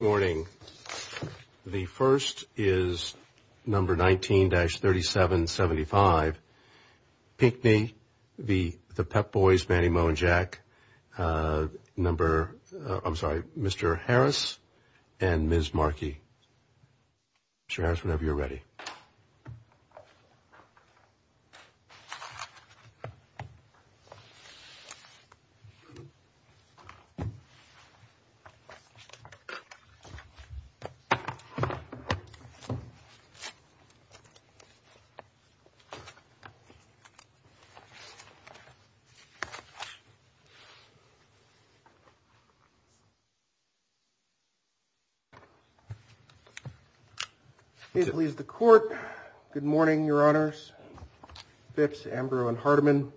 Morning. The first is number 19-3775. Pinkney, The Pep Boys, Manny Moe and Jack. Number, I'm sorry, Mr. Harris and Ms. Markey. Mr. Harris, whenever you're ready. Please the court. Good morning, Your Honors. Fitz, Amber and Hardeman.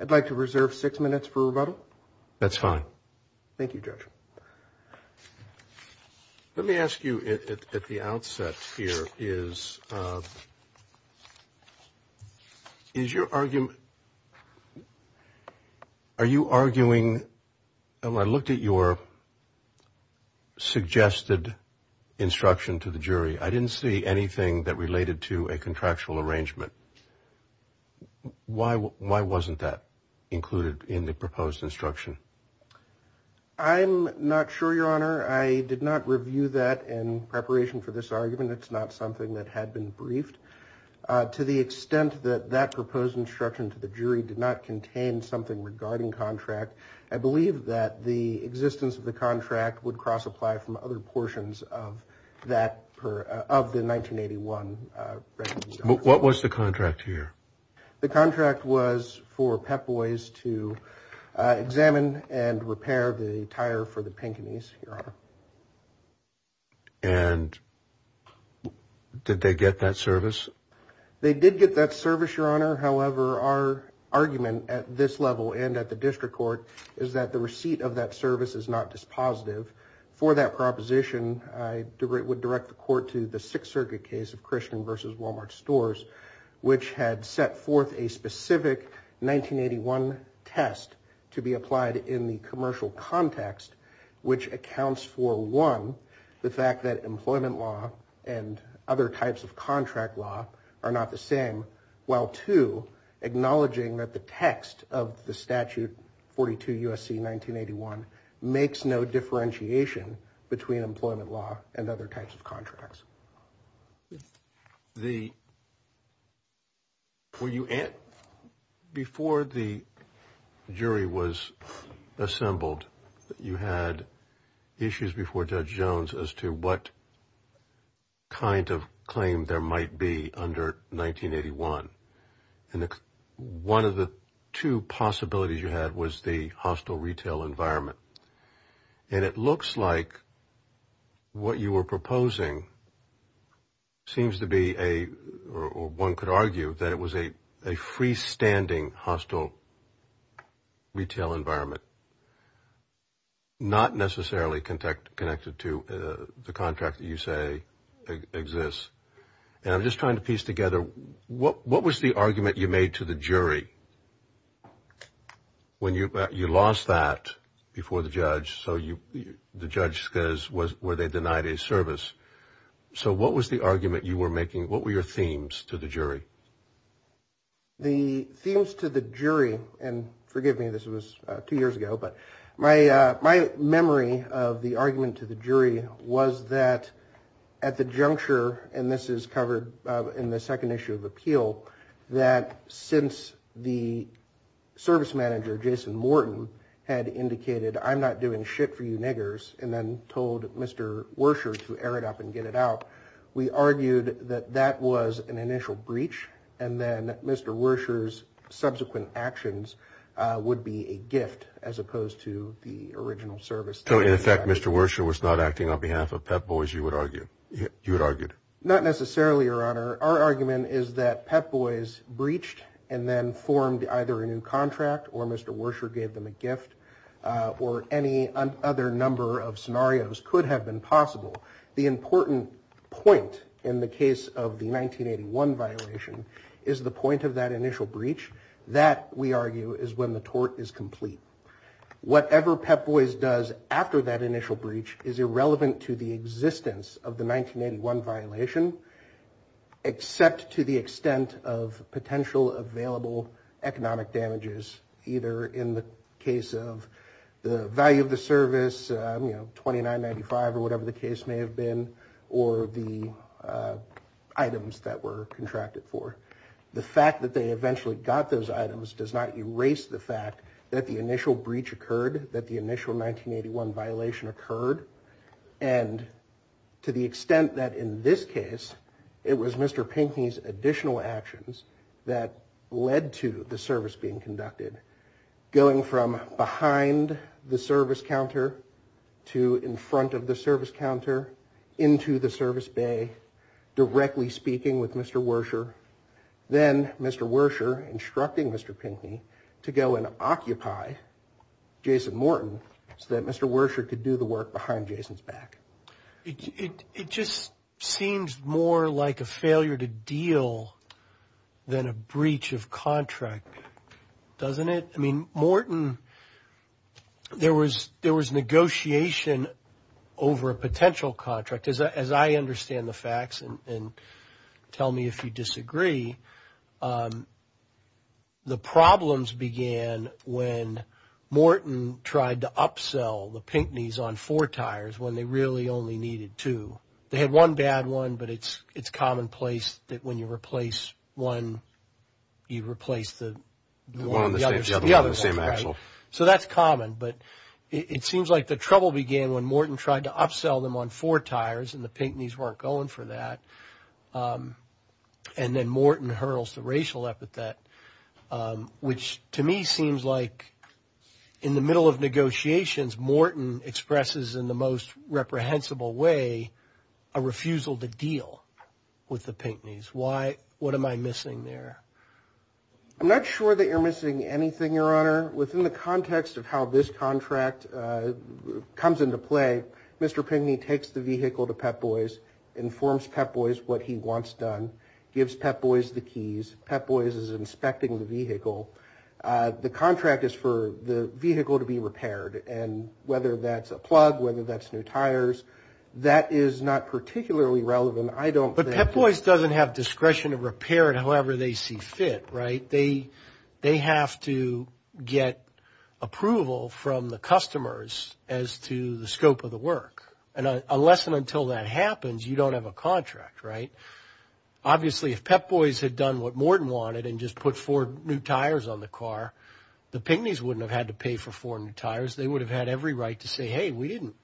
I'd like to reserve six minutes for rebuttal. That's fine. Thank you, Judge. Let me ask you at the outset here is. Is your argument. Are you arguing? I looked at your. Suggested instruction to the jury, I didn't see anything that related to a contractual arrangement. Why? Why wasn't that included in the proposed instruction? I'm not sure, Your Honor. I did not review that in preparation for this argument. It's not something that had been briefed to the extent that that proposed instruction to the jury did not contain something regarding contract. I believe that the existence of the contract would cross apply from other portions of that of the 1981. What was the contract here? The contract was for Pep Boys to examine and repair the tire for the Pinkneys. Your Honor. And did they get that service? They did get that service, Your Honor. However, our argument at this level and at the district court is that the receipt of that service is not dispositive for that proposition. I would direct the court to the Sixth Circuit case of Christian versus Wal-Mart stores, which had set forth a specific 1981 test to be applied in the commercial context, which accounts for one, the fact that employment law and other types of contract law are not the same, while to acknowledging that the text of the statute 42 USC 1981 makes no differentiation between employment law and other types of contracts. Yes. Before the jury was assembled, you had issues before Judge Jones as to what kind of claim there might be under 1981. And one of the two possibilities you had was the hostile retail environment. And it looks like what you were proposing seems to be a, or one could argue that it was a freestanding hostile retail environment, not necessarily connected to the contract that you say exists. And I'm just trying to piece together what was the argument you made to the jury when you lost that before the judge, so the judge says, were they denied a service? So what was the argument you were making? What were your themes to the jury? The themes to the jury, and forgive me, this was two years ago, but my memory of the argument to the jury was that at the juncture, and this is covered in the second issue of appeal, that since the service manager, Jason Morton, had indicated, I'm not doing shit for you niggers, and then told Mr. Wersher to air it up and get it out, we argued that that was an initial breach, and then Mr. Wersher's subsequent actions would be a gift as opposed to the original service. So in effect, Mr. Wersher was not acting on behalf of Pep Boys, you would argue? Not necessarily, Your Honor. Our argument is that Pep Boys breached and then formed either a new contract, or Mr. Wersher gave them a gift, or any other number of scenarios could have been possible. The important point in the case of the 1981 violation is the point of that initial breach. That, we argue, is when the tort is complete. Whatever Pep Boys does after that initial breach is irrelevant to the existence of the 1981 violation, except to the extent of potential available economic damages, either in the case of the value of the service, you know, $29.95 or whatever the case may have been, or the items that were contracted for. The fact that they eventually got those items does not erase the fact that the initial breach occurred, that the initial 1981 violation occurred, and to the extent that in this case, it was Mr. Pinkney's additional actions that led to the service being conducted. Going from behind the service counter to in front of the service counter, into the service bay, directly speaking with Mr. Wersher, then Mr. Wersher instructing Mr. Pinkney to go and occupy Jason Morton so that Mr. Wersher could do the work behind Jason's back. It just seems more like a failure to deal than a breach of contract, doesn't it? I mean, Morton, there was negotiation over a potential contract. As I understand the facts, and tell me if you disagree, the problems began when Morton tried to upsell the Pinkneys on four tires when they really only needed two. They had one bad one, but it's commonplace that when you replace one, you replace the other. So that's common, but it seems like the trouble began when Morton tried to upsell them on four tires and the Pinkneys weren't going for that, and then Morton hurls the racial epithet, which to me seems like in the middle of negotiations, Morton expresses in the most reprehensible way a refusal to deal with the Pinkneys. What am I missing there? I'm not sure that you're missing anything, Your Honor. Within the context of how this contract comes into play, Mr. Pinkney takes the vehicle to Pep Boys, informs Pep Boys what he wants done, gives Pep Boys the keys, Pep Boys is inspecting the vehicle. The contract is for the vehicle to be repaired, and whether that's a plug, whether that's new tires, that is not particularly relevant, I don't think. Pep Boys doesn't have discretion to repair it however they see fit, right? They have to get approval from the customers as to the scope of the work, and unless and until that happens, you don't have a contract, right? Obviously, if Pep Boys had done what Morton wanted and just put four new tires on the car, the Pinkneys wouldn't have had to pay for four new tires. They would have had every right to say, hey, we didn't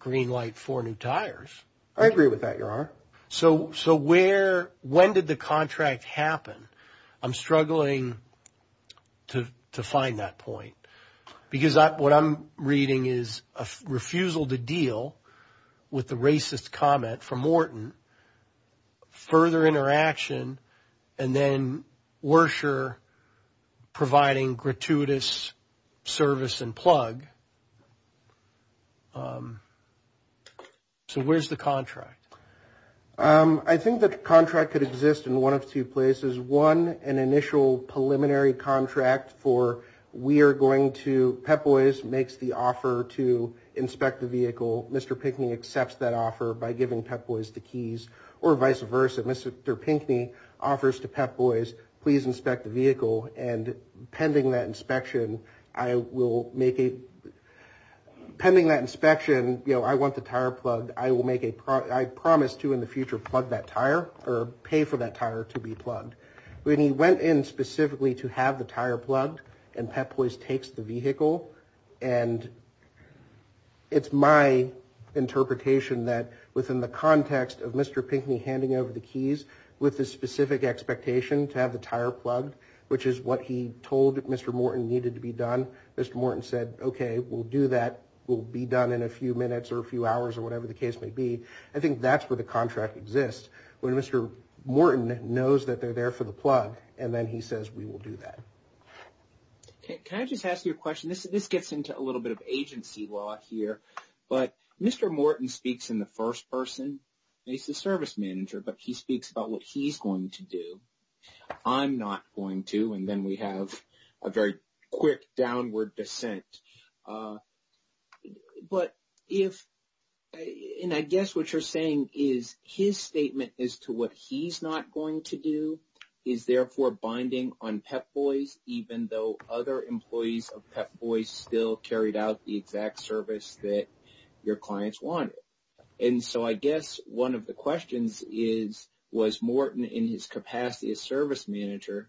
greenlight four new tires. I agree with that, Your Honor. So where, when did the contract happen? I'm struggling to find that point, because what I'm reading is a refusal to deal with the racist comment from Morton, further interaction, and then Werscher providing gratuitous service and plug. So where's the contract? I think the contract could exist in one of two places. One, an initial preliminary contract for we are going to, Pep Boys makes the offer to inspect the vehicle. Mr. Pinkney accepts that offer by giving Pep Boys the keys, or vice versa. And pending that inspection, I will make a, pending that inspection, you know, I want the tire plugged. I will make a, I promise to, in the future, plug that tire, or pay for that tire to be plugged. When he went in specifically to have the tire plugged, and Pep Boys takes the vehicle, and it's my interpretation that within the context of Mr. Pinkney handing over the keys with the specific expectation to have the tire plugged, which is what he told Mr. Morton needed to be done, Mr. Morton said, okay, we'll do that. We'll be done in a few minutes or a few hours or whatever the case may be. I think that's where the contract exists, when Mr. Morton knows that they're there for the plug, and then he says, we will do that. Can I just ask you a question? This gets into a little bit of agency law here, but Mr. Morton speaks in the first person. He's the service manager, but he speaks about what he's going to do. I'm not going to, and then we have a very quick downward descent. I guess what you're saying is his statement as to what he's not going to do is therefore binding on Pep Boys, even though other employees of Pep Boys still carried out the exact service that your clients wanted. I guess one of the questions is, was Morton in his capacity as service manager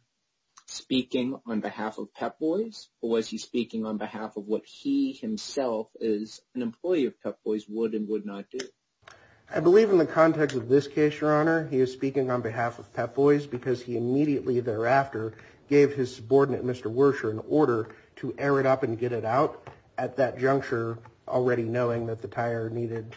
speaking on behalf of Pep Boys, or was he speaking on behalf of what he himself as an employee of Pep Boys would and would not do? I believe in the context of this case, Your Honor, he is speaking on behalf of Pep Boys, because he immediately thereafter gave his subordinate, Mr. Werscher, an order to air it up and get it out at that juncture, already knowing that the tire needed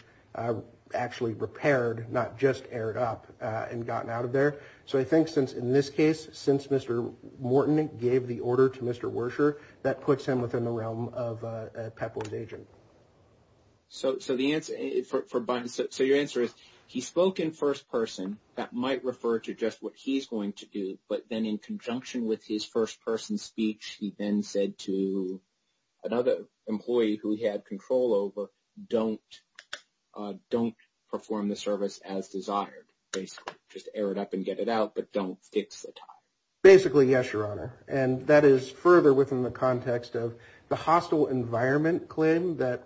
actually repaired, not just aired up and gotten out of there. So I think in this case, since Mr. Morton gave the order to Mr. Werscher, that puts him within the realm of a Pep Boys agent. So your answer is, he spoke in first person, that might refer to just what he's going to do, but then in conjunction with his first person speech, he then said to another employee who he had control over, don't perform the service as desired, basically. Just air it up and get it out, but don't fix the tire. Basically, yes, Your Honor. And that is further within the context of the hostile environment claim that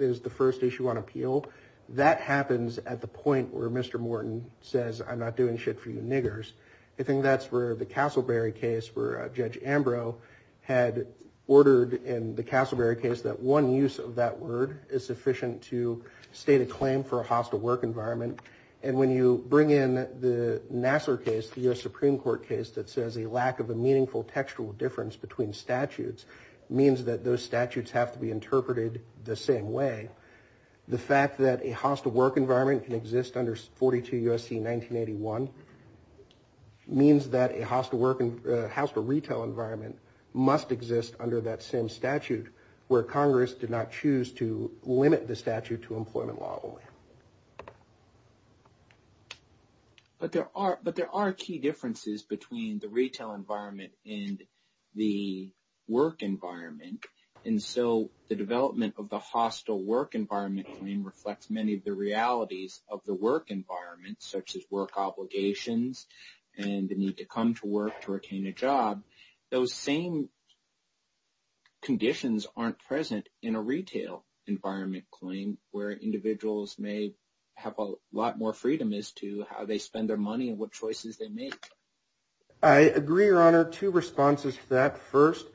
is the first issue on appeal. That happens at the point where Mr. Morton says, I'm not doing shit for you niggers. I think that's where the Castleberry case, where Judge Ambrose had ordered in the Castleberry case that one use of that word is sufficient to state a claim for a hostile work environment. And when you bring in the Nassar case, the US Supreme Court case that says a lack of a meaningful textual difference between statutes means that those statutes have to be interpreted the same way. The fact that a hostile work environment can exist under 42 U.S.C. 1981 means that a hostile retail environment must exist under that same statute where Congress did not choose to limit the statute to employment law only. But there are key differences between the retail environment and the work environment. And so the development of the hostile work environment claim reflects many of the realities of the work environment, such as work obligations and the need to come to work to retain a job. Those same conditions aren't present in a retail environment claim where individuals may have a lot more freedom as to how they spend their money and what choices they make. I agree, Your Honor, two responses to that. First,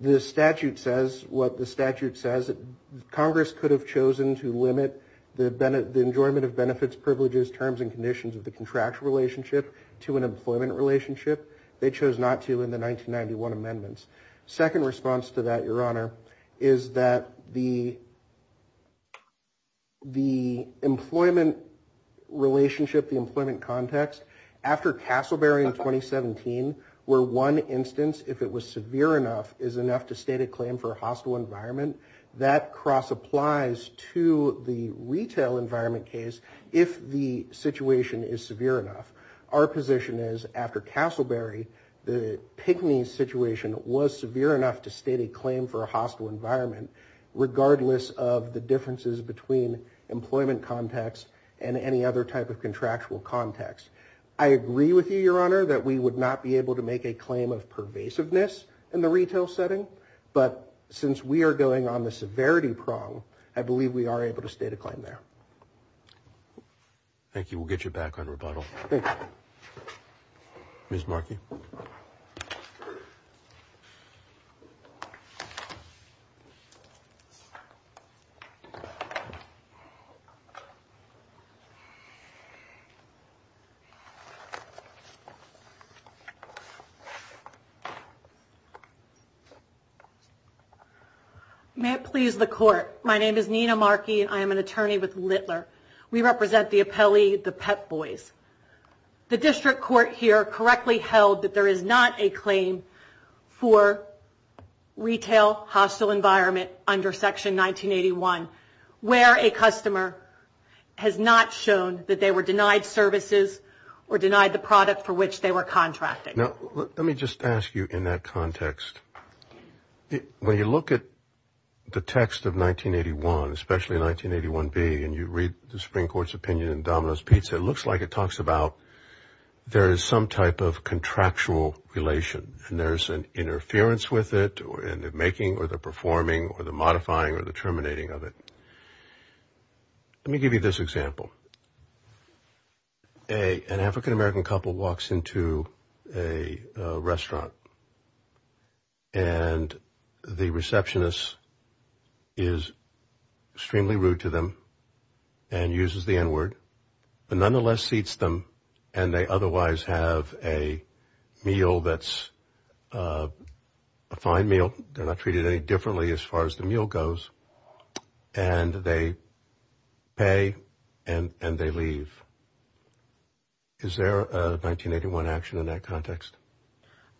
the statute says what the statute says. Congress could have chosen to limit the enjoyment of benefits, privileges, terms, and conditions of the contractual relationship to an employment relationship. They chose not to in the 1991 amendments. Second response to that, Your Honor, is that the employment relationship, the employment context, after Castleberry in 2017, where one instance, if it was severe enough, is enough to state a claim for a hostile environment, that cross-applies to the retail environment case if the situation is severe enough. Our position is, after Castleberry, the Pygmy situation was severe enough to state a claim for a hostile environment, regardless of the differences between employment context and any other type of contractual context. I agree with you, Your Honor, that we would not be able to make a claim of pervasiveness in the retail setting, but since we are going on the severity prong, I believe we are able to state a claim there. Thank you. We'll get you back on rebuttal. Thank you. Ms. Markey. May it please the Court. My name is Nina Markey, and I am an attorney with Littler. We represent the appellee, the Pep Boys. The district court here correctly held that there is not a claim for retail hostile environment under Section 1981, where a customer has not shown that they were denied services or denied the product for which they were contracting. Now, let me just ask you in that context, when you look at the text of 1981, especially 1981b, and you read the Supreme Court's opinion in Domino's Pizza, it looks like it talks about there is some type of contractual relation, and there is an interference with it in the making or the performing or the modifying or the terminating of it. Let me give you this example. An African-American couple walks into a restaurant, and the receptionist is extremely rude to them and uses the N-word, but nonetheless seats them, and they otherwise have a meal that's a fine meal. They're not treated any differently as far as the meal goes, and they pay and they leave. Is there a 1981 action in that context?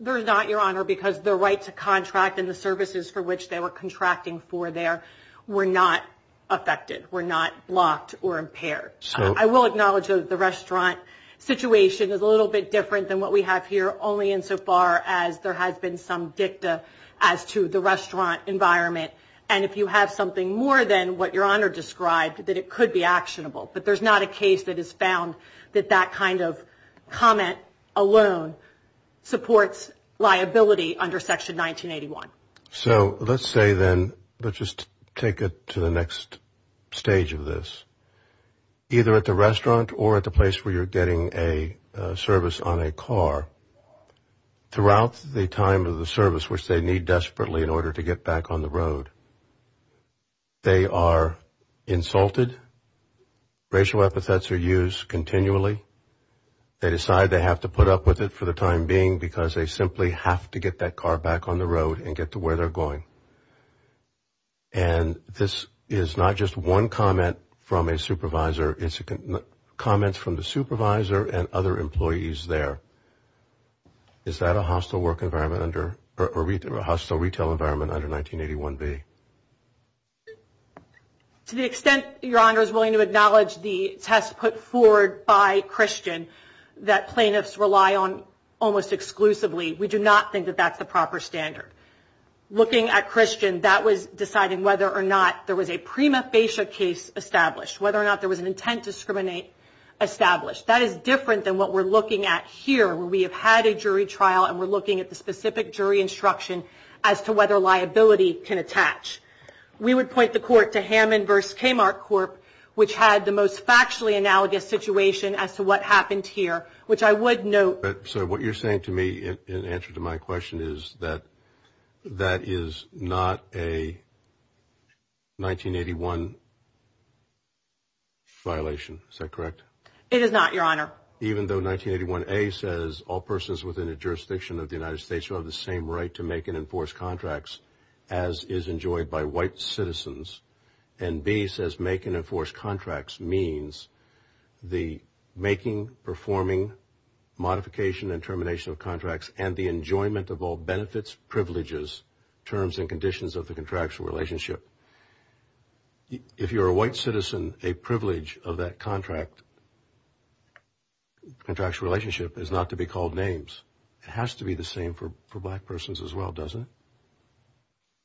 There is not, Your Honor, because the right to contract and the services for which they were contracting for there were not affected, were not blocked or impaired. I will acknowledge that the restaurant situation is a little bit different than what we have here, only insofar as there has been some dicta as to the restaurant environment, and if you have something more than what Your Honor described, that it could be actionable. But there's not a case that has found that that kind of comment alone supports liability under Section 1981. So let's say then, let's just take it to the next stage of this. Either at the restaurant or at the place where you're getting a service on a car, throughout the time of the service, is there a case in which the restaurant has a service which they need desperately in order to get back on the road? They are insulted, racial epithets are used continually, they decide they have to put up with it for the time being because they simply have to get that car back on the road and get to where they're going. And this is not just one comment from a supervisor, it's comments from the supervisor and other employees there. Is that a hostile retail environment under 1981B? To the extent Your Honor is willing to acknowledge the test put forward by Christian that plaintiffs rely on almost exclusively, we do not think that that's the proper standard. Looking at Christian, that was deciding whether or not there was a prima facie case established, whether or not there was an intent to discriminate established. That is different than what we're looking at here where we have had a jury trial and we're looking at the specific jury instruction as to whether liability can attach. We would point the court to Hammond v. Kmart Corp., which had the most factually analogous situation as to what happened here, which I would note. So what you're saying to me in answer to my question is that that is not a 1981 violation, is that correct? It is not, Your Honor. Even though 1981A says all persons within a jurisdiction of the United States who have the same right to make and enforce contracts as is enjoyed by white citizens, and B says make and enforce contracts means the making, performing, modification, and termination of contracts and the enjoyment of all benefits, privileges, terms and conditions of the contractual relationship. If you're a white citizen, a privilege of that contractual relationship is not to be called names. It has to be the same for black persons as well, doesn't it?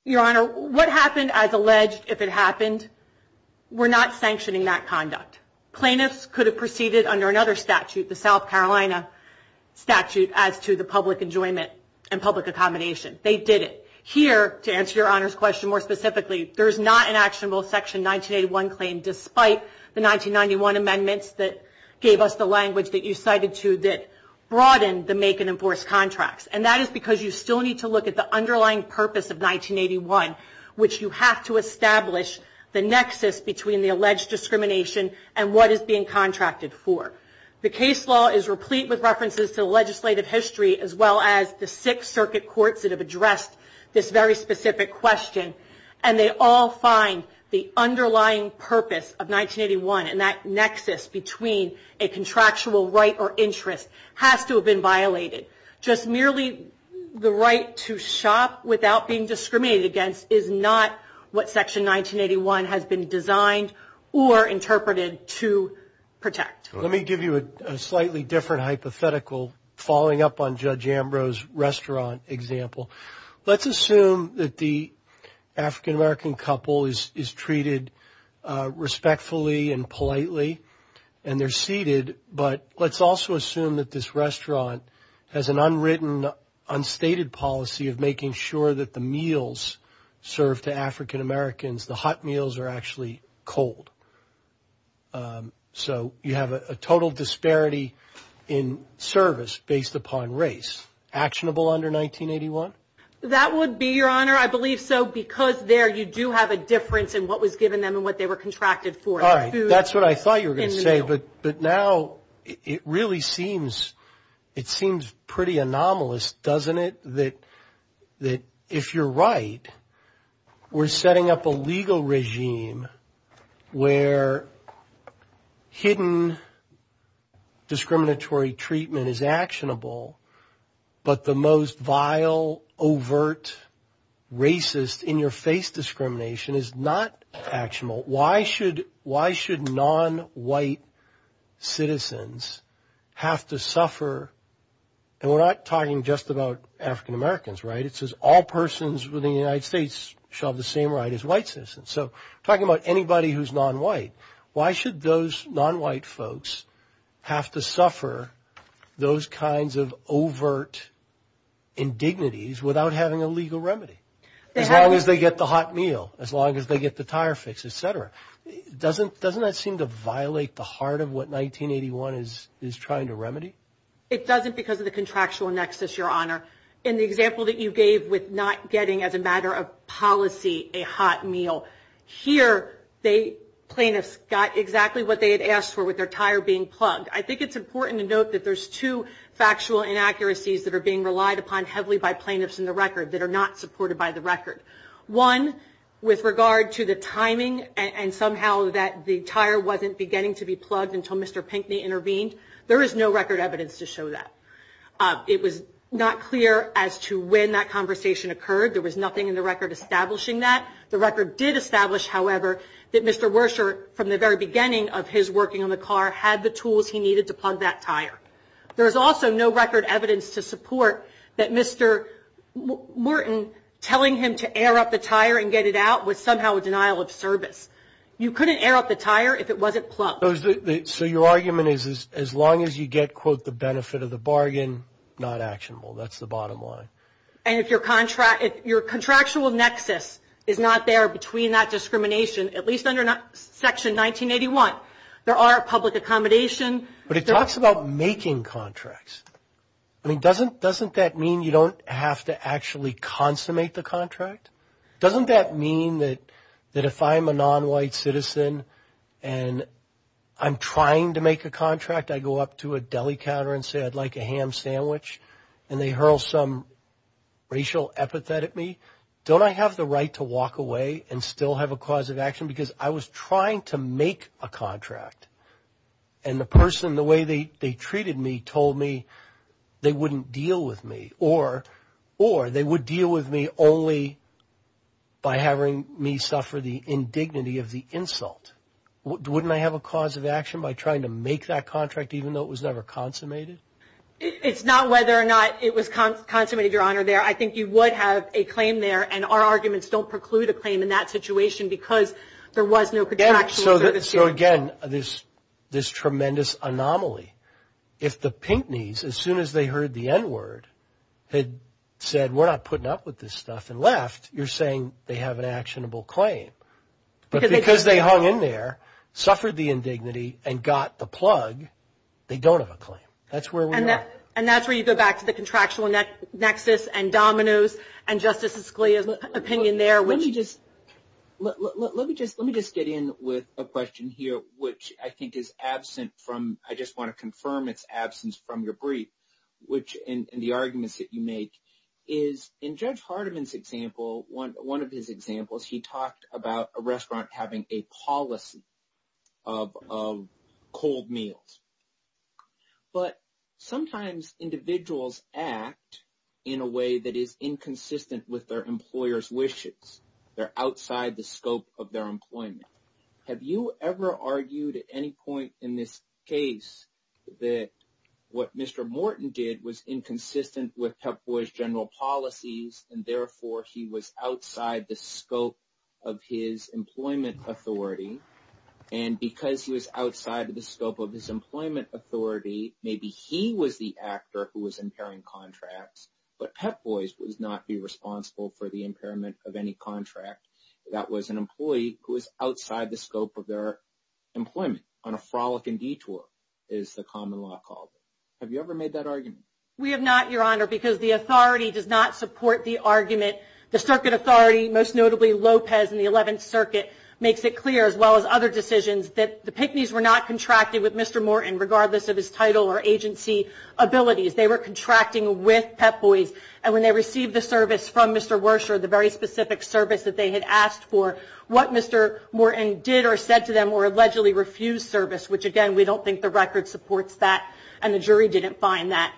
Your Honor, what happened as alleged, if it happened, we're not sanctioning that conduct. Plaintiffs could have proceeded under another statute, the South Carolina statute, as to the public enjoyment and public accommodation. They didn't. Here, to answer Your Honor's question more specifically, there is not an actionable Section 1981 claim despite the 1991 amendments that gave us the language that you cited to that broadened the make and enforce contracts. And that is because you still need to look at the underlying purpose of 1981, which you have to establish the nexus between the alleged discrimination and what is being contracted for. The case law is replete with references to legislative history as well as the six circuit courts that have addressed this very specific question. And they all find the underlying purpose of 1981 and that nexus between a contractual right or interest has to have been violated. Just merely the right to shop without being discriminated against is not what Section 1981 has been designed or interpreted to protect. Let me give you a slightly different hypothetical, following up on Judge Ambrose's restaurant example. Let's assume that the African-American couple is treated respectfully and politely and they're seated, but let's also assume that this restaurant has an unwritten, unstated policy of making sure that the meals served to African-Americans, the hot meals are actually cold. So you have a total disparity in service based upon race. Actionable under 1981? That would be, Your Honor, I believe so, because there you do have a difference in what was given them and what they were contracted for. All right, that's what I thought you were going to say, but now it really seems pretty anomalous, doesn't it? That if you're right, we're setting up a legal regime where hidden discriminatory treatment is actionable, but the most vile, overt, racist, in-your-face discrimination is not actionable. Why should non-white citizens have to suffer, and we're not talking just about African-Americans, right? It says all persons within the United States shall have the same right as white citizens. So talking about anybody who's non-white, why should those non-white folks have to suffer those kinds of overt indignities without having a legal remedy? As long as they get the hot meal, as long as they get the tire fix, et cetera. Doesn't that seem to violate the heart of what 1981 is trying to remedy? It doesn't because of the contractual nexus, Your Honor. In the example that you gave with not getting, as a matter of policy, a hot meal, here plaintiffs got exactly what they had asked for with their tire being plugged. I think it's important to note that there's two factual inaccuracies that are being relied upon heavily by plaintiffs in the record that are not supported by the record. One, with regard to the timing and somehow that the tire wasn't beginning to be plugged until Mr. Pinckney intervened, there is no record evidence to show that. It was not clear as to when that conversation occurred. There was nothing in the record establishing that. The record did establish, however, that Mr. Werscher, from the very beginning of his working on the car, had the tools he needed to plug that tire. There is also no record evidence to support that Mr. Morton telling him to air up the tire and get it out was somehow a denial of service. You couldn't air up the tire if it wasn't plugged. So your argument is as long as you get, quote, the benefit of the bargain, not actionable. That's the bottom line. And if your contractual nexus is not there between that discrimination, at least under Section 1981, there are public accommodation. But it talks about making contracts. I mean, doesn't that mean you don't have to actually consummate the contract? Doesn't that mean that if I'm a nonwhite citizen and I'm trying to make a contract, I go up to a deli counter and say I'd like a ham sandwich and they hurl some racial epithet at me, don't I have the right to walk away and still have a cause of action? Because I was trying to make a contract and the person, the way they treated me, told me they wouldn't deal with me or they would deal with me only by having me suffer the indignity of the insult. Wouldn't I have a cause of action by trying to make that contract even though it was never consummated? It's not whether or not it was consummated, Your Honor, there. I think you would have a claim there, and our arguments don't preclude a claim in that situation because there was no contractual service here. So, again, this tremendous anomaly. If the Pinckneys, as soon as they heard the N-word, had said we're not putting up with this stuff and left, you're saying they have an actionable claim. But because they hung in there, suffered the indignity, and got the plug, they don't have a claim. That's where we are. And that's where you go back to the contractual nexus and dominoes and Justice Scalia's opinion there. Let me just get in with a question here, which I think is absent from – I just want to confirm its absence from your brief, which in the arguments that you make, is in Judge Hardiman's example, one of his examples, he talked about a restaurant having a policy of cold meals. But sometimes individuals act in a way that is inconsistent with their employer's wishes. They're outside the scope of their employment. Have you ever argued at any point in this case that what Mr. Morton did was inconsistent with PEPFOR's general policies, and therefore he was outside the scope of his employment authority? And because he was outside the scope of his employment authority, maybe he was the actor who was impairing contracts, but PEPFOR would not be responsible for the impairment of any contract. That was an employee who was outside the scope of their employment, on a frolic and detour, as the common law called it. Have you ever made that argument? We have not, Your Honor, because the authority does not support the argument. The Circuit Authority, most notably Lopez in the 11th Circuit, makes it clear, as well as other decisions, that the PICNIs were not contracted with Mr. Morton, regardless of his title or agency abilities. They were contracting with PEPFOR, and when they received the service from Mr. Wersher, the very specific service that they had asked for, what Mr. Morton did or said to them or allegedly refused service, which again, we don't think the record supports that, and the jury didn't find that.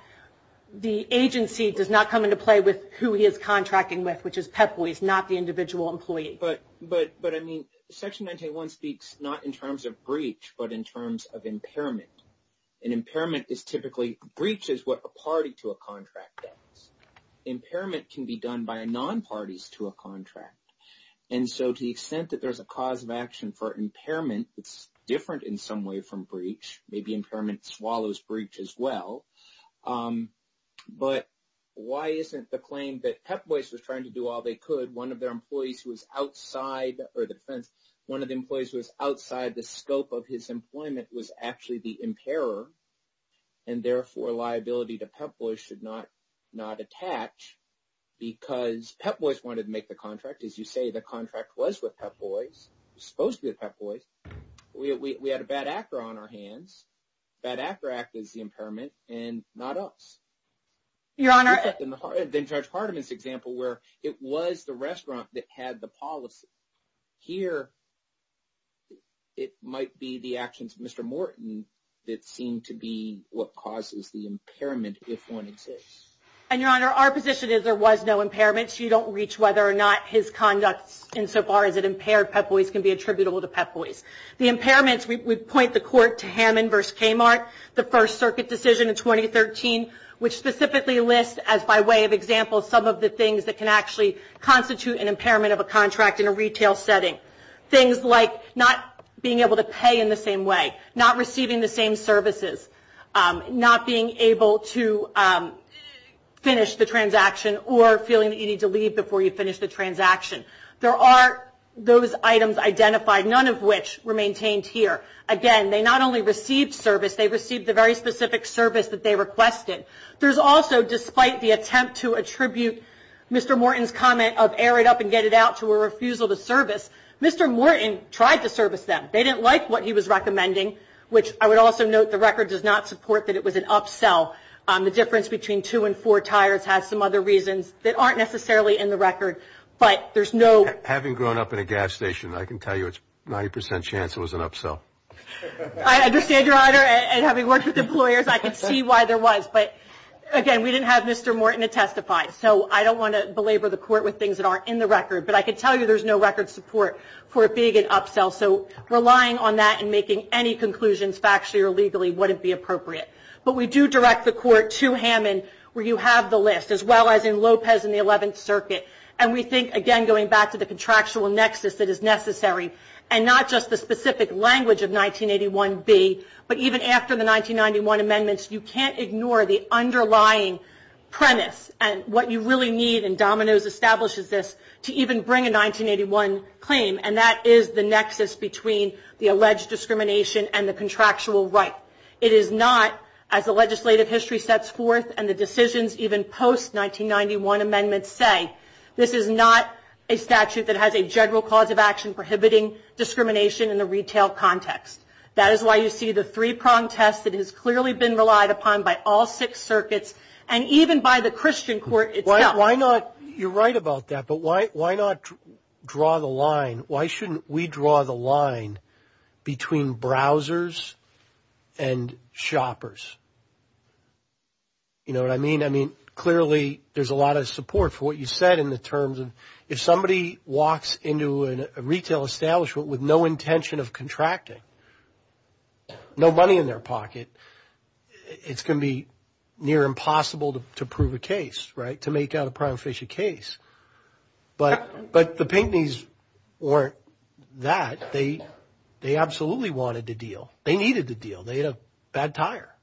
The agency does not come into play with who he is contracting with, which is PEPFOR. He's not the individual employee. But, I mean, Section 981 speaks not in terms of breach, but in terms of impairment. And impairment is typically, breach is what a party to a contract does. Impairment can be done by non-parties to a contract. And so to the extent that there's a cause of action for impairment, it's different in some way from breach. Maybe impairment swallows breach as well. But why isn't the claim that Pep Boys was trying to do all they could, one of their employees who was outside, or the defense, one of the employees who was outside the scope of his employment was actually the impairer, and therefore liability to Pep Boys should not attach, because Pep Boys wanted to make the contract. As you say, the contract was with Pep Boys. It was supposed to be with Pep Boys. We had a bad actor on our hands. Bad actor act is the impairment, and not us. Your Honor. In Judge Hardiman's example, where it was the restaurant that had the policy. Here, it might be the actions of Mr. Morton that seem to be what causes the impairment, if one exists. And, Your Honor, our position is there was no impairment. You don't reach whether or not his conduct, insofar as it impaired Pep Boys, can be attributable to Pep Boys. The impairments, we point the court to Hammond v. Kmart, the First Circuit decision in 2013, which specifically lists, as by way of example, some of the things that can actually constitute an impairment of a contract in a retail setting. Things like not being able to pay in the same way, not receiving the same services, not being able to finish the transaction, or feeling that you need to leave before you finish the transaction. There are those items identified, none of which were maintained here. Again, they not only received service, they received the very specific service that they requested. There's also, despite the attempt to attribute Mr. Morton's comment of air it up and get it out to a refusal to service, Mr. Morton tried to service them. They didn't like what he was recommending, which I would also note the record does not support that it was an upsell. The difference between two and four tires has some other reasons that aren't necessarily in the record, but there's no... Having grown up in a gas station, I can tell you it's a 90% chance it was an upsell. I understand, Your Honor, and having worked with employers, I can see why there was. But again, we didn't have Mr. Morton to testify, so I don't want to belabor the court with things that aren't in the record. But I can tell you there's no record support for it being an upsell. So relying on that and making any conclusions, factually or legally, wouldn't be appropriate. But we do direct the court to Hammond, where you have the list, as well as in Lopez in the 11th Circuit. And we think, again, going back to the contractual nexus that is necessary, and not just the specific language of 1981b, but even after the 1991 amendments, you can't ignore the underlying premise and what you really need, and Domino's establishes this, to even bring a 1981 claim, and that is the nexus between the alleged discrimination and the contractual right. It is not, as the legislative history sets forth and the decisions even post-1991 amendments say, this is not a statute that has a general cause of action prohibiting discrimination in the retail context. That is why you see the three-pronged test that has clearly been relied upon by all six circuits, and even by the Christian court itself. You're right about that, but why not draw the line? Between browsers and shoppers. You know what I mean? I mean, clearly there's a lot of support for what you said in the terms of, if somebody walks into a retail establishment with no intention of contracting, no money in their pocket, it's going to be near impossible to prove a case, right, to make out a prima facie case. But the Pinckney's weren't that. They absolutely wanted to deal. They needed to deal. They had a bad tire.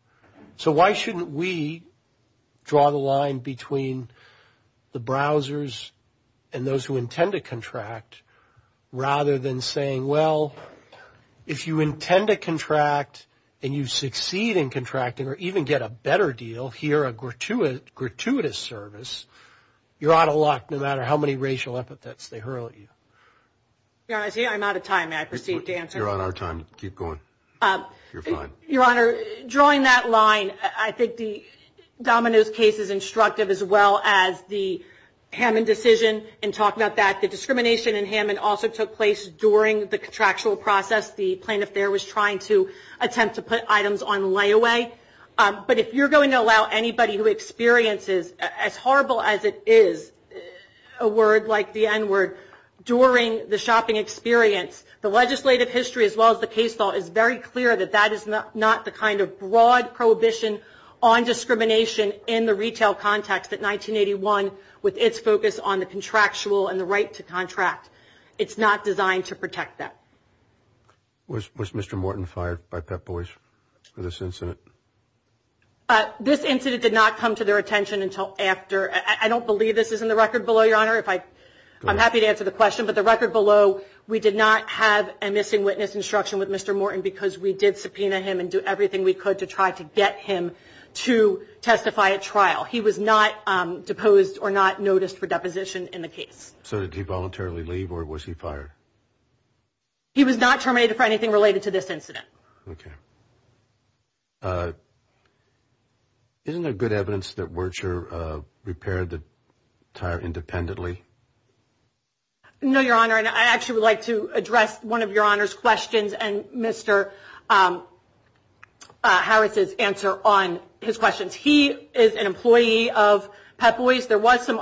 So why shouldn't we draw the line between the browsers and those who intend to contract rather than saying, well, if you intend to contract and you succeed in contracting or even get a better deal here, a gratuitous service, you're out of luck no matter how many racial epithets they hurl at you. Your Honor, I'm out of time. May I proceed to answer? You're on our time. Keep going. You're fine. Your Honor, drawing that line, I think the Domino's case is instructive as well as the Hammond decision in talking about that. The discrimination in Hammond also took place during the contractual process. The plaintiff there was trying to attempt to put items on layaway. But if you're going to allow anybody who experiences as horrible as it is, a word like the N-word, during the shopping experience, the legislative history as well as the case law is very clear that that is not the kind of broad prohibition on discrimination in the retail context at 1981 with its focus on the contractual and the right to contract. It's not designed to protect that. Was Mr. Morton fired by Pep Boys for this incident? This incident did not come to their attention until after. I don't believe this is in the record below, Your Honor. I'm happy to answer the question. But the record below, we did not have a missing witness instruction with Mr. Morton because we did subpoena him and do everything we could to try to get him to testify at trial. He was not deposed or not noticed for deposition in the case. So did he voluntarily leave or was he fired? He was not terminated for anything related to this incident. Okay. Isn't there good evidence that Wurtscher repaired the tire independently? No, Your Honor. And I actually would like to address one of Your Honor's questions and Mr. Harris's answer on his questions. He is an employee of Pep Boys. There was some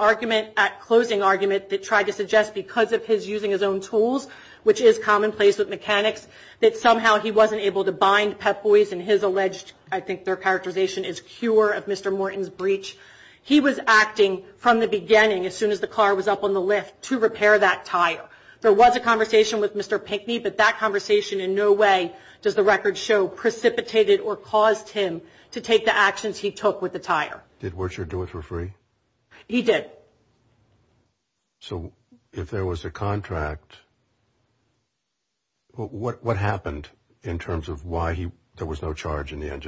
closing argument that tried to suggest because of his using his own tools, which is commonplace with mechanics, that somehow he wasn't able to bind Pep Boys in his alleged, I think their characterization is cure of Mr. Morton's breach. He was acting from the beginning as soon as the car was up on the lift to repair that tire. There was a conversation with Mr. Pinckney, but that conversation in no way does the record show precipitated or caused him to take the actions he took with the tire. Did Wurtscher do it for free? He did. So if there was a contract, what happened in terms of why there was no charge in the end?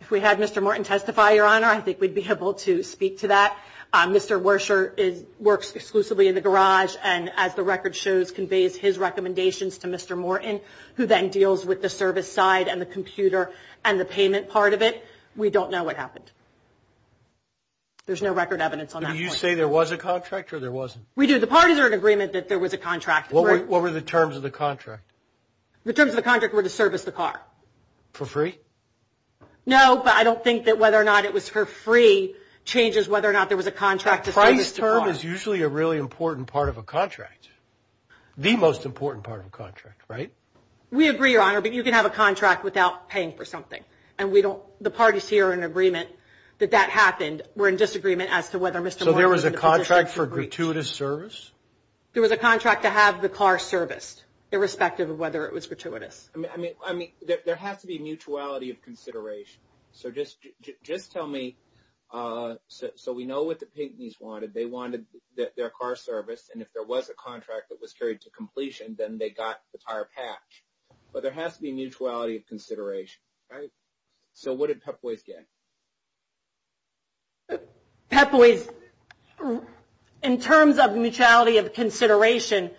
If we had Mr. Morton testify, Your Honor, I think we'd be able to speak to that. Mr. Wurtscher works exclusively in the garage, and as the record shows conveys his recommendations to Mr. Morton, who then deals with the service side and the computer and the payment part of it. We don't know what happened. There's no record evidence on that point. Do you say there was a contract or there wasn't? We do. The parties are in agreement that there was a contract. What were the terms of the contract? The terms of the contract were to service the car. For free? No, but I don't think that whether or not it was for free changes whether or not there was a contract to service the car. A price term is usually a really important part of a contract, the most important part of a contract, right? We agree, Your Honor, but you can have a contract without paying for something, and the parties here are in agreement that that happened. We're in disagreement as to whether Mr. Morton was in a position to breach. So there was a contract for gratuitous service? There was a contract to have the car serviced, irrespective of whether it was gratuitous. I mean, there has to be mutuality of consideration. So just tell me, so we know what the Pinckney's wanted. They wanted their car serviced, and if there was a contract that was carried to completion, then they got the tire patch. But there has to be mutuality of consideration, right? So what did Pep Boys get? Pep Boys, in terms of mutuality of consideration,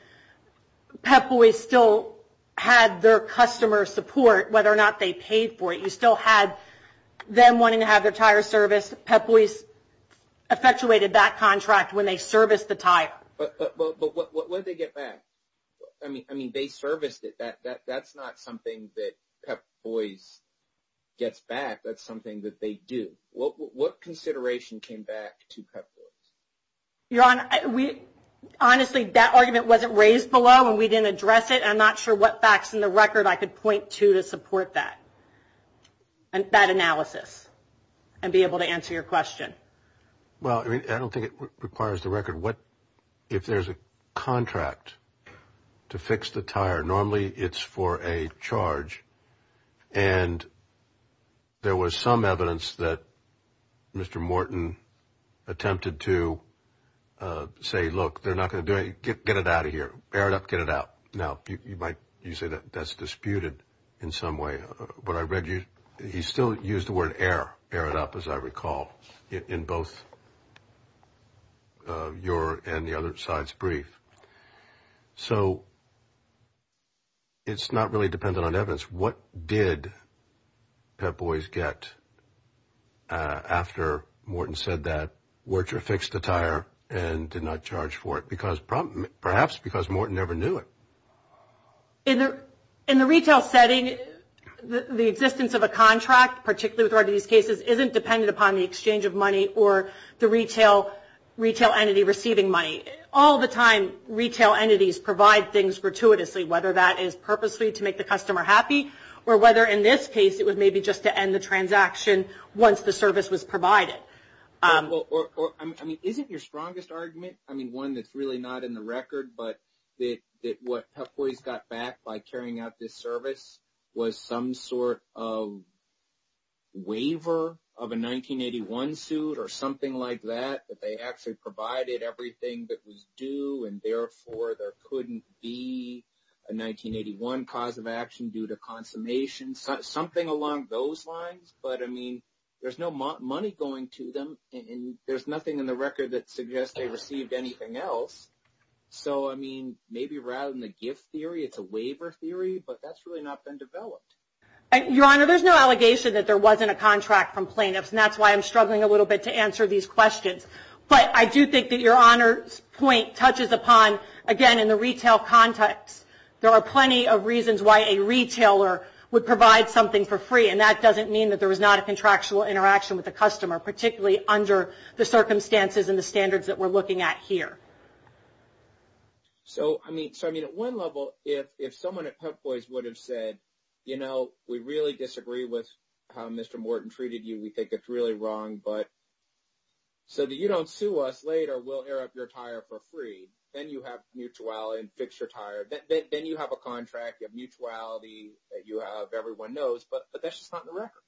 Pep Boys still had their customer support, whether or not they paid for it. You still had them wanting to have their tire serviced. Pep Boys effectuated that contract when they serviced the tire. But what did they get back? I mean, they serviced it. That's not something that Pep Boys gets back. That's something that they do. What consideration came back to Pep Boys? Your Honor, honestly, that argument wasn't raised below, and we didn't address it. I'm not sure what facts in the record I could point to to support that analysis and be able to answer your question. Well, I don't think it requires the record. If there's a contract to fix the tire, normally it's for a charge, and there was some evidence that Mr. Morton attempted to say, look, they're not going to do it. Get it out of here. Air it up. Get it out. Now, you might say that's disputed in some way. He still used the word air. Air it up, as I recall, in both your and the other side's brief. So it's not really dependent on evidence. What did Pep Boys get after Morton said that Wirtjer fixed the tire and did not charge for it? Perhaps because Morton never knew it. In the retail setting, the existence of a contract, particularly with regard to these cases, isn't dependent upon the exchange of money or the retail entity receiving money. All the time, retail entities provide things gratuitously, whether that is purposely to make the customer happy, or whether in this case it was maybe just to end the transaction once the service was provided. Isn't your strongest argument, I mean, one that's really not in the record, but that what Pep Boys got back by carrying out this service was some sort of waiver of a 1981 suit or something like that, that they actually provided everything that was due, and therefore there couldn't be a 1981 cause of action due to consummation, something along those lines. But, I mean, there's no money going to them, and there's nothing in the record that suggests they received anything else. So, I mean, maybe rather than the gift theory, it's a waiver theory, but that's really not been developed. Your Honor, there's no allegation that there wasn't a contract from plaintiffs, and that's why I'm struggling a little bit to answer these questions. But I do think that Your Honor's point touches upon, again, in the retail context. There are plenty of reasons why a retailer would provide something for free, and that doesn't mean that there was not a contractual interaction with the customer, particularly under the circumstances and the standards that we're looking at here. So, I mean, at one level, if someone at Pep Boys would have said, you know, we really disagree with how Mr. Morton treated you, we think it's really wrong, but so that you don't sue us later, we'll air up your tire for free, then you have mutuality and fix your tire. Then you have a contract, you have mutuality, you have everyone knows, but that's just not in the record.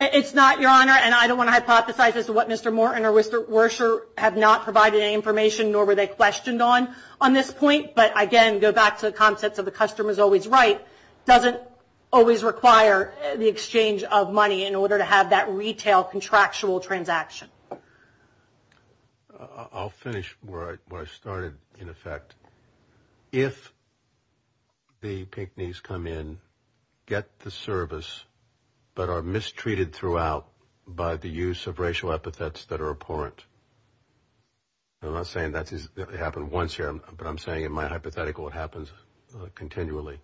It's not, Your Honor, and I don't want to hypothesize as to what Mr. Morton or Mr. Wersher have not provided any information nor were they questioned on on this point. But, again, go back to the concept of the customer's always right, doesn't always require the exchange of money in order to have that retail contractual transaction. I'll finish where I started, in effect. If the Pygmies come in, get the service, but are mistreated throughout by the use of racial epithets that are abhorrent, I'm not saying that happened once here, but I'm saying in my hypothetical it happens continually.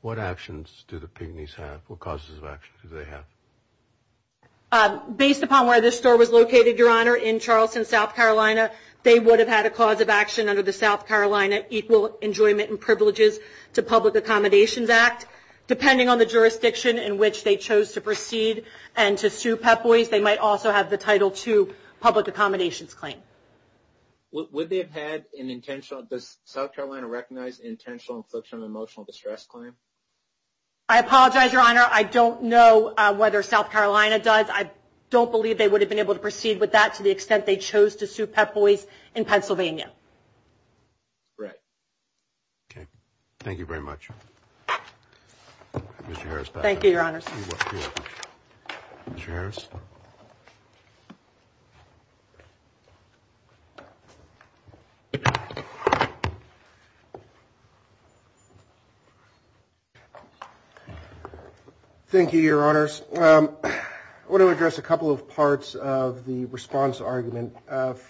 What actions do the Pygmies have? What causes of action do they have? Based upon where this store was located, Your Honor, in Charleston, South Carolina, they would have had a cause of action under the South Carolina Equal Enjoyment and Privileges to Public Accommodations Act. Depending on the jurisdiction in which they chose to proceed and to sue Pep Boys, they might also have the Title II Public Accommodations Claim. Would they have had an intentional, does South Carolina recognize intentional infliction of emotional distress claim? I apologize, Your Honor. I don't know whether South Carolina does. I don't believe they would have been able to proceed with that to the extent they chose to sue Pep Boys in Pennsylvania. Right. Okay. Thank you very much. Thank you, Your Honors. You're welcome. Mr. Harris? Thank you, Your Honors. I want to address a couple of parts of the response argument.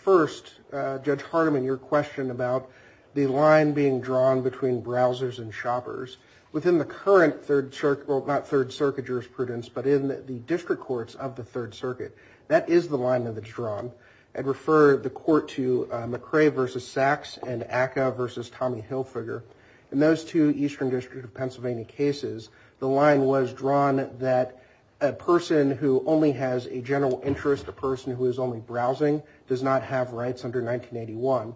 First, Judge Hardiman, your question about the line being drawn between browsers and shoppers. Within the current Third Circuit, well, not Third Circuit jurisprudence, but in the district courts of the Third Circuit, that is the line that's drawn. I'd refer the court to McCrae v. Sachs and Acca v. Tommy Hilfiger. In those two Eastern District of Pennsylvania cases, the line was drawn that a person who only has a general interest, a person who is only browsing, does not have rights under 1981.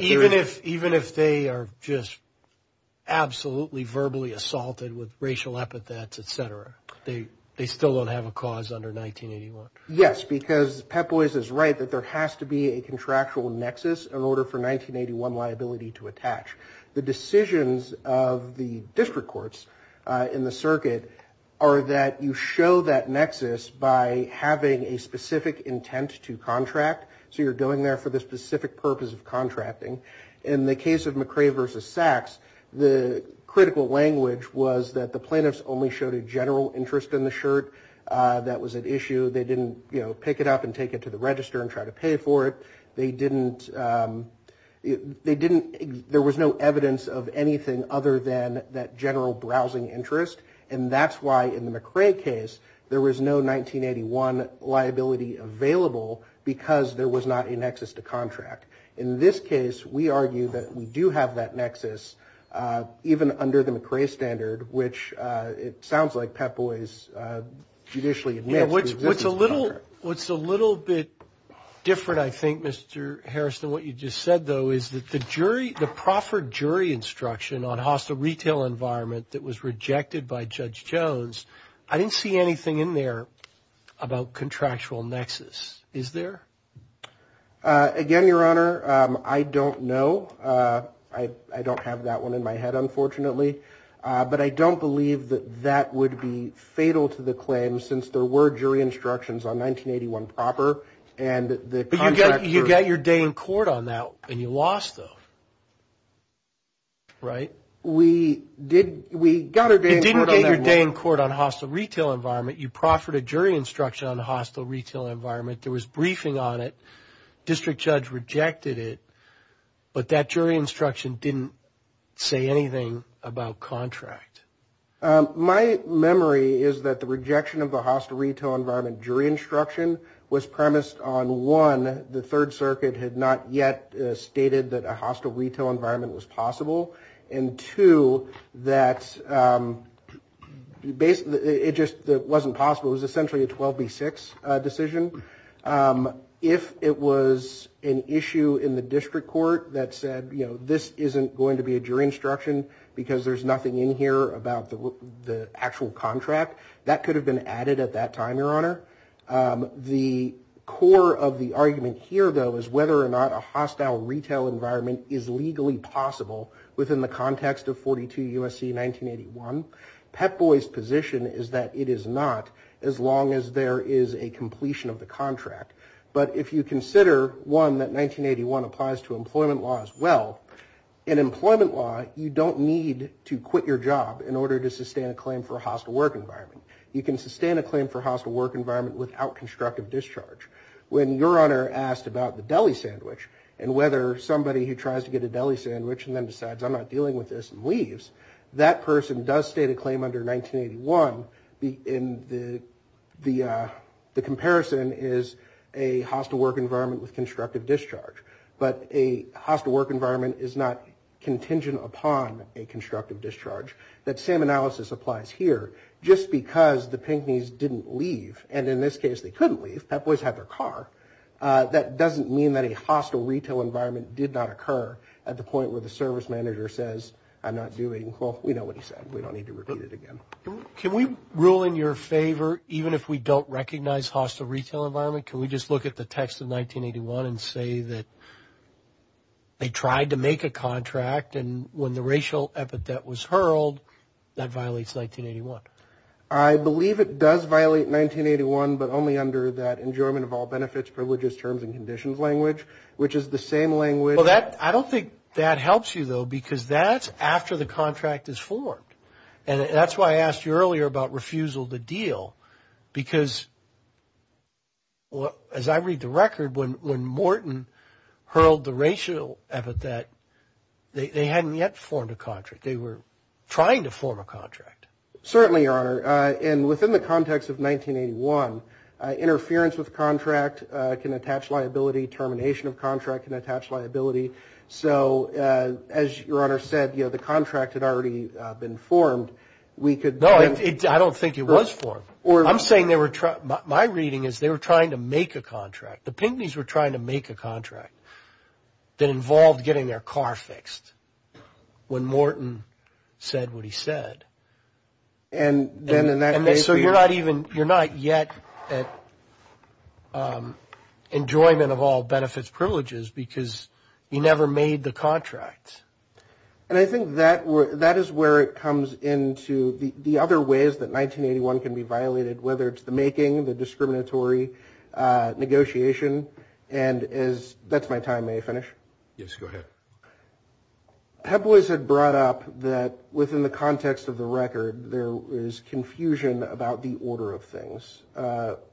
Even if they are just absolutely verbally assaulted with racial epithets, et cetera, they still don't have a cause under 1981? Yes, because Pep Boys is right that there has to be a contractual nexus in order for 1981 liability to attach. The decisions of the district courts in the circuit are that you show that nexus by having a specific intent to contract. So you're going there for the specific purpose of contracting. In the case of McCrae v. Sachs, the critical language was that the plaintiffs only showed a general interest in the shirt. That was an issue. They didn't, you know, pick it up and take it to the register and try to pay for it. They didn't, they didn't, there was no evidence of anything other than that general browsing interest. And that's why in the McCrae case, there was no 1981 liability available because there was not a nexus to contract. In this case, we argue that we do have that nexus even under the McCrae standard, which it sounds like Pep Boys judicially admits. What's a little bit different, I think, Mr. Harrison, what you just said, though, is that the jury, the proffered jury instruction on hostile retail environment that was rejected by Judge Jones. I didn't see anything in there about contractual nexus. Is there again, Your Honor? I don't know. I don't have that one in my head, unfortunately, but I don't believe that that would be fatal to the claim since there were jury instructions on 1981 proper. But you got your day in court on that, and you lost, though, right? We got our day in court on that one. You didn't get your day in court on hostile retail environment. You proffered a jury instruction on hostile retail environment. There was briefing on it. District judge rejected it, but that jury instruction didn't say anything about contract. My memory is that the rejection of the hostile retail environment jury instruction was premised on, one, the Third Circuit had not yet stated that a hostile retail environment was possible, and, two, that it just wasn't possible. It was essentially a 12B6 decision. If it was an issue in the district court that said, you know, this isn't going to be a jury instruction because there's nothing in here about the actual contract, that could have been added at that time, Your Honor. The core of the argument here, though, is whether or not a hostile retail environment is legally possible within the context of 42 U.S.C. 1981. Pet Boy's position is that it is not, as long as there is a completion of the contract. But if you consider, one, that 1981 applies to employment law as well, in employment law, you don't need to quit your job in order to sustain a claim for a hostile work environment. You can sustain a claim for a hostile work environment without constructive discharge. When Your Honor asked about the deli sandwich, and whether somebody who tries to get a deli sandwich and then decides, I'm not dealing with this, and leaves, that person does state a claim under 1981. The comparison is a hostile work environment with constructive discharge. But a hostile work environment is not contingent upon a constructive discharge. That same analysis applies here. Just because the Pinckney's didn't leave, and in this case they couldn't leave, Pet Boy's had their car, that doesn't mean that a hostile retail environment did not occur at the point where the service manager says, I'm not doing, well, we know what he said. We don't need to repeat it again. Can we rule in your favor, even if we don't recognize hostile retail environment, can we just look at the text of 1981 and say that they tried to make a contract, and when the racial epithet was hurled, that violates 1981? I believe it does violate 1981, but only under that enjoyment of all benefits, privileges, terms and conditions language, which is the same language. Well, I don't think that helps you, though, because that's after the contract is formed. And that's why I asked you earlier about refusal to deal, because as I read the record, when Morton hurled the racial epithet, they hadn't yet formed a contract. They were trying to form a contract. Certainly, Your Honor. And within the context of 1981, interference with contract can attach liability, termination of contract can attach liability. So as Your Honor said, the contract had already been formed. No, I don't think it was formed. I'm saying they were trying, my reading is they were trying to make a contract. The Pinckney's were trying to make a contract that involved getting their car fixed. When Morton said what he said. And so you're not even, you're not yet at enjoyment of all benefits, privileges because you never made the contract. And I think that is where it comes into the other ways that 1981 can be violated, whether it's the making, the discriminatory negotiation, and that's my time. May I finish? Yes, go ahead. Pep Boys had brought up that within the context of the record, there is confusion about the order of things.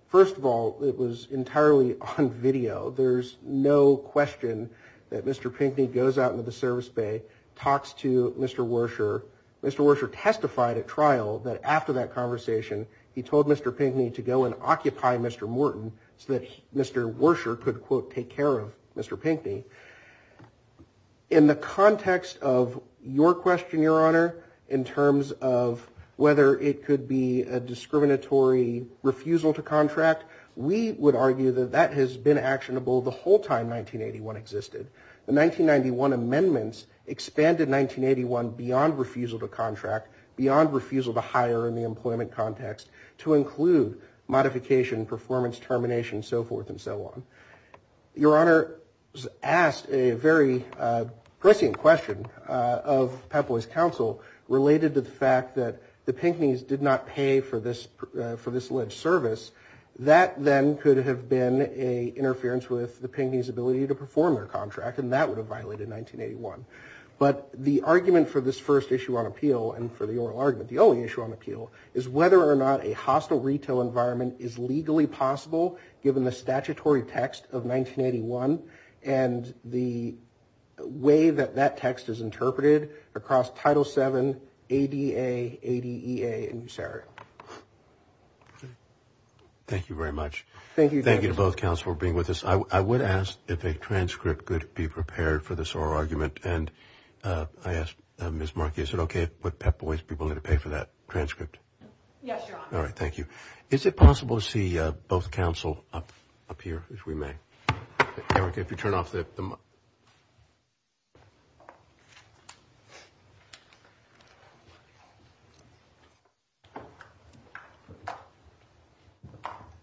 First of all, it was entirely on video. There's no question that Mr. Pinckney goes out into the service bay, talks to Mr. Werscher. Mr. Werscher testified at trial that after that conversation, he told Mr. Pinckney to go and occupy Mr. Morton so that Mr. Werscher could, quote, take care of Mr. Pinckney. In the context of your question, Your Honor, in terms of whether it could be a discriminatory refusal to contract, we would argue that that has been actionable the whole time 1981 existed. The 1991 amendments expanded 1981 beyond refusal to contract, beyond refusal to hire in the employment context, to include modification, performance, termination, and so forth and so on. Your Honor asked a very prescient question of Pep Boys' counsel related to the fact that the Pinckneys did not pay for this alleged service. That then could have been an interference with the Pinckneys' ability to perform their contract, and that would have violated 1981. But the argument for this first issue on appeal, and for the oral argument, the only issue on appeal, is whether or not a hostile retail environment is legally possible, given the statutory text of 1981 and the way that that text is interpreted across Title VII, ADA, ADEA, and USERA. Thank you very much. Thank you. Thank you to both counsel for being with us. I would ask if a transcript could be prepared for this oral argument, and I ask Ms. Markey, is it okay with Pep Boys people to pay for that transcript? Yes, Your Honor. All right, thank you. Is it possible to see both counsel up here, if we may? Erica, if you turn off the mic.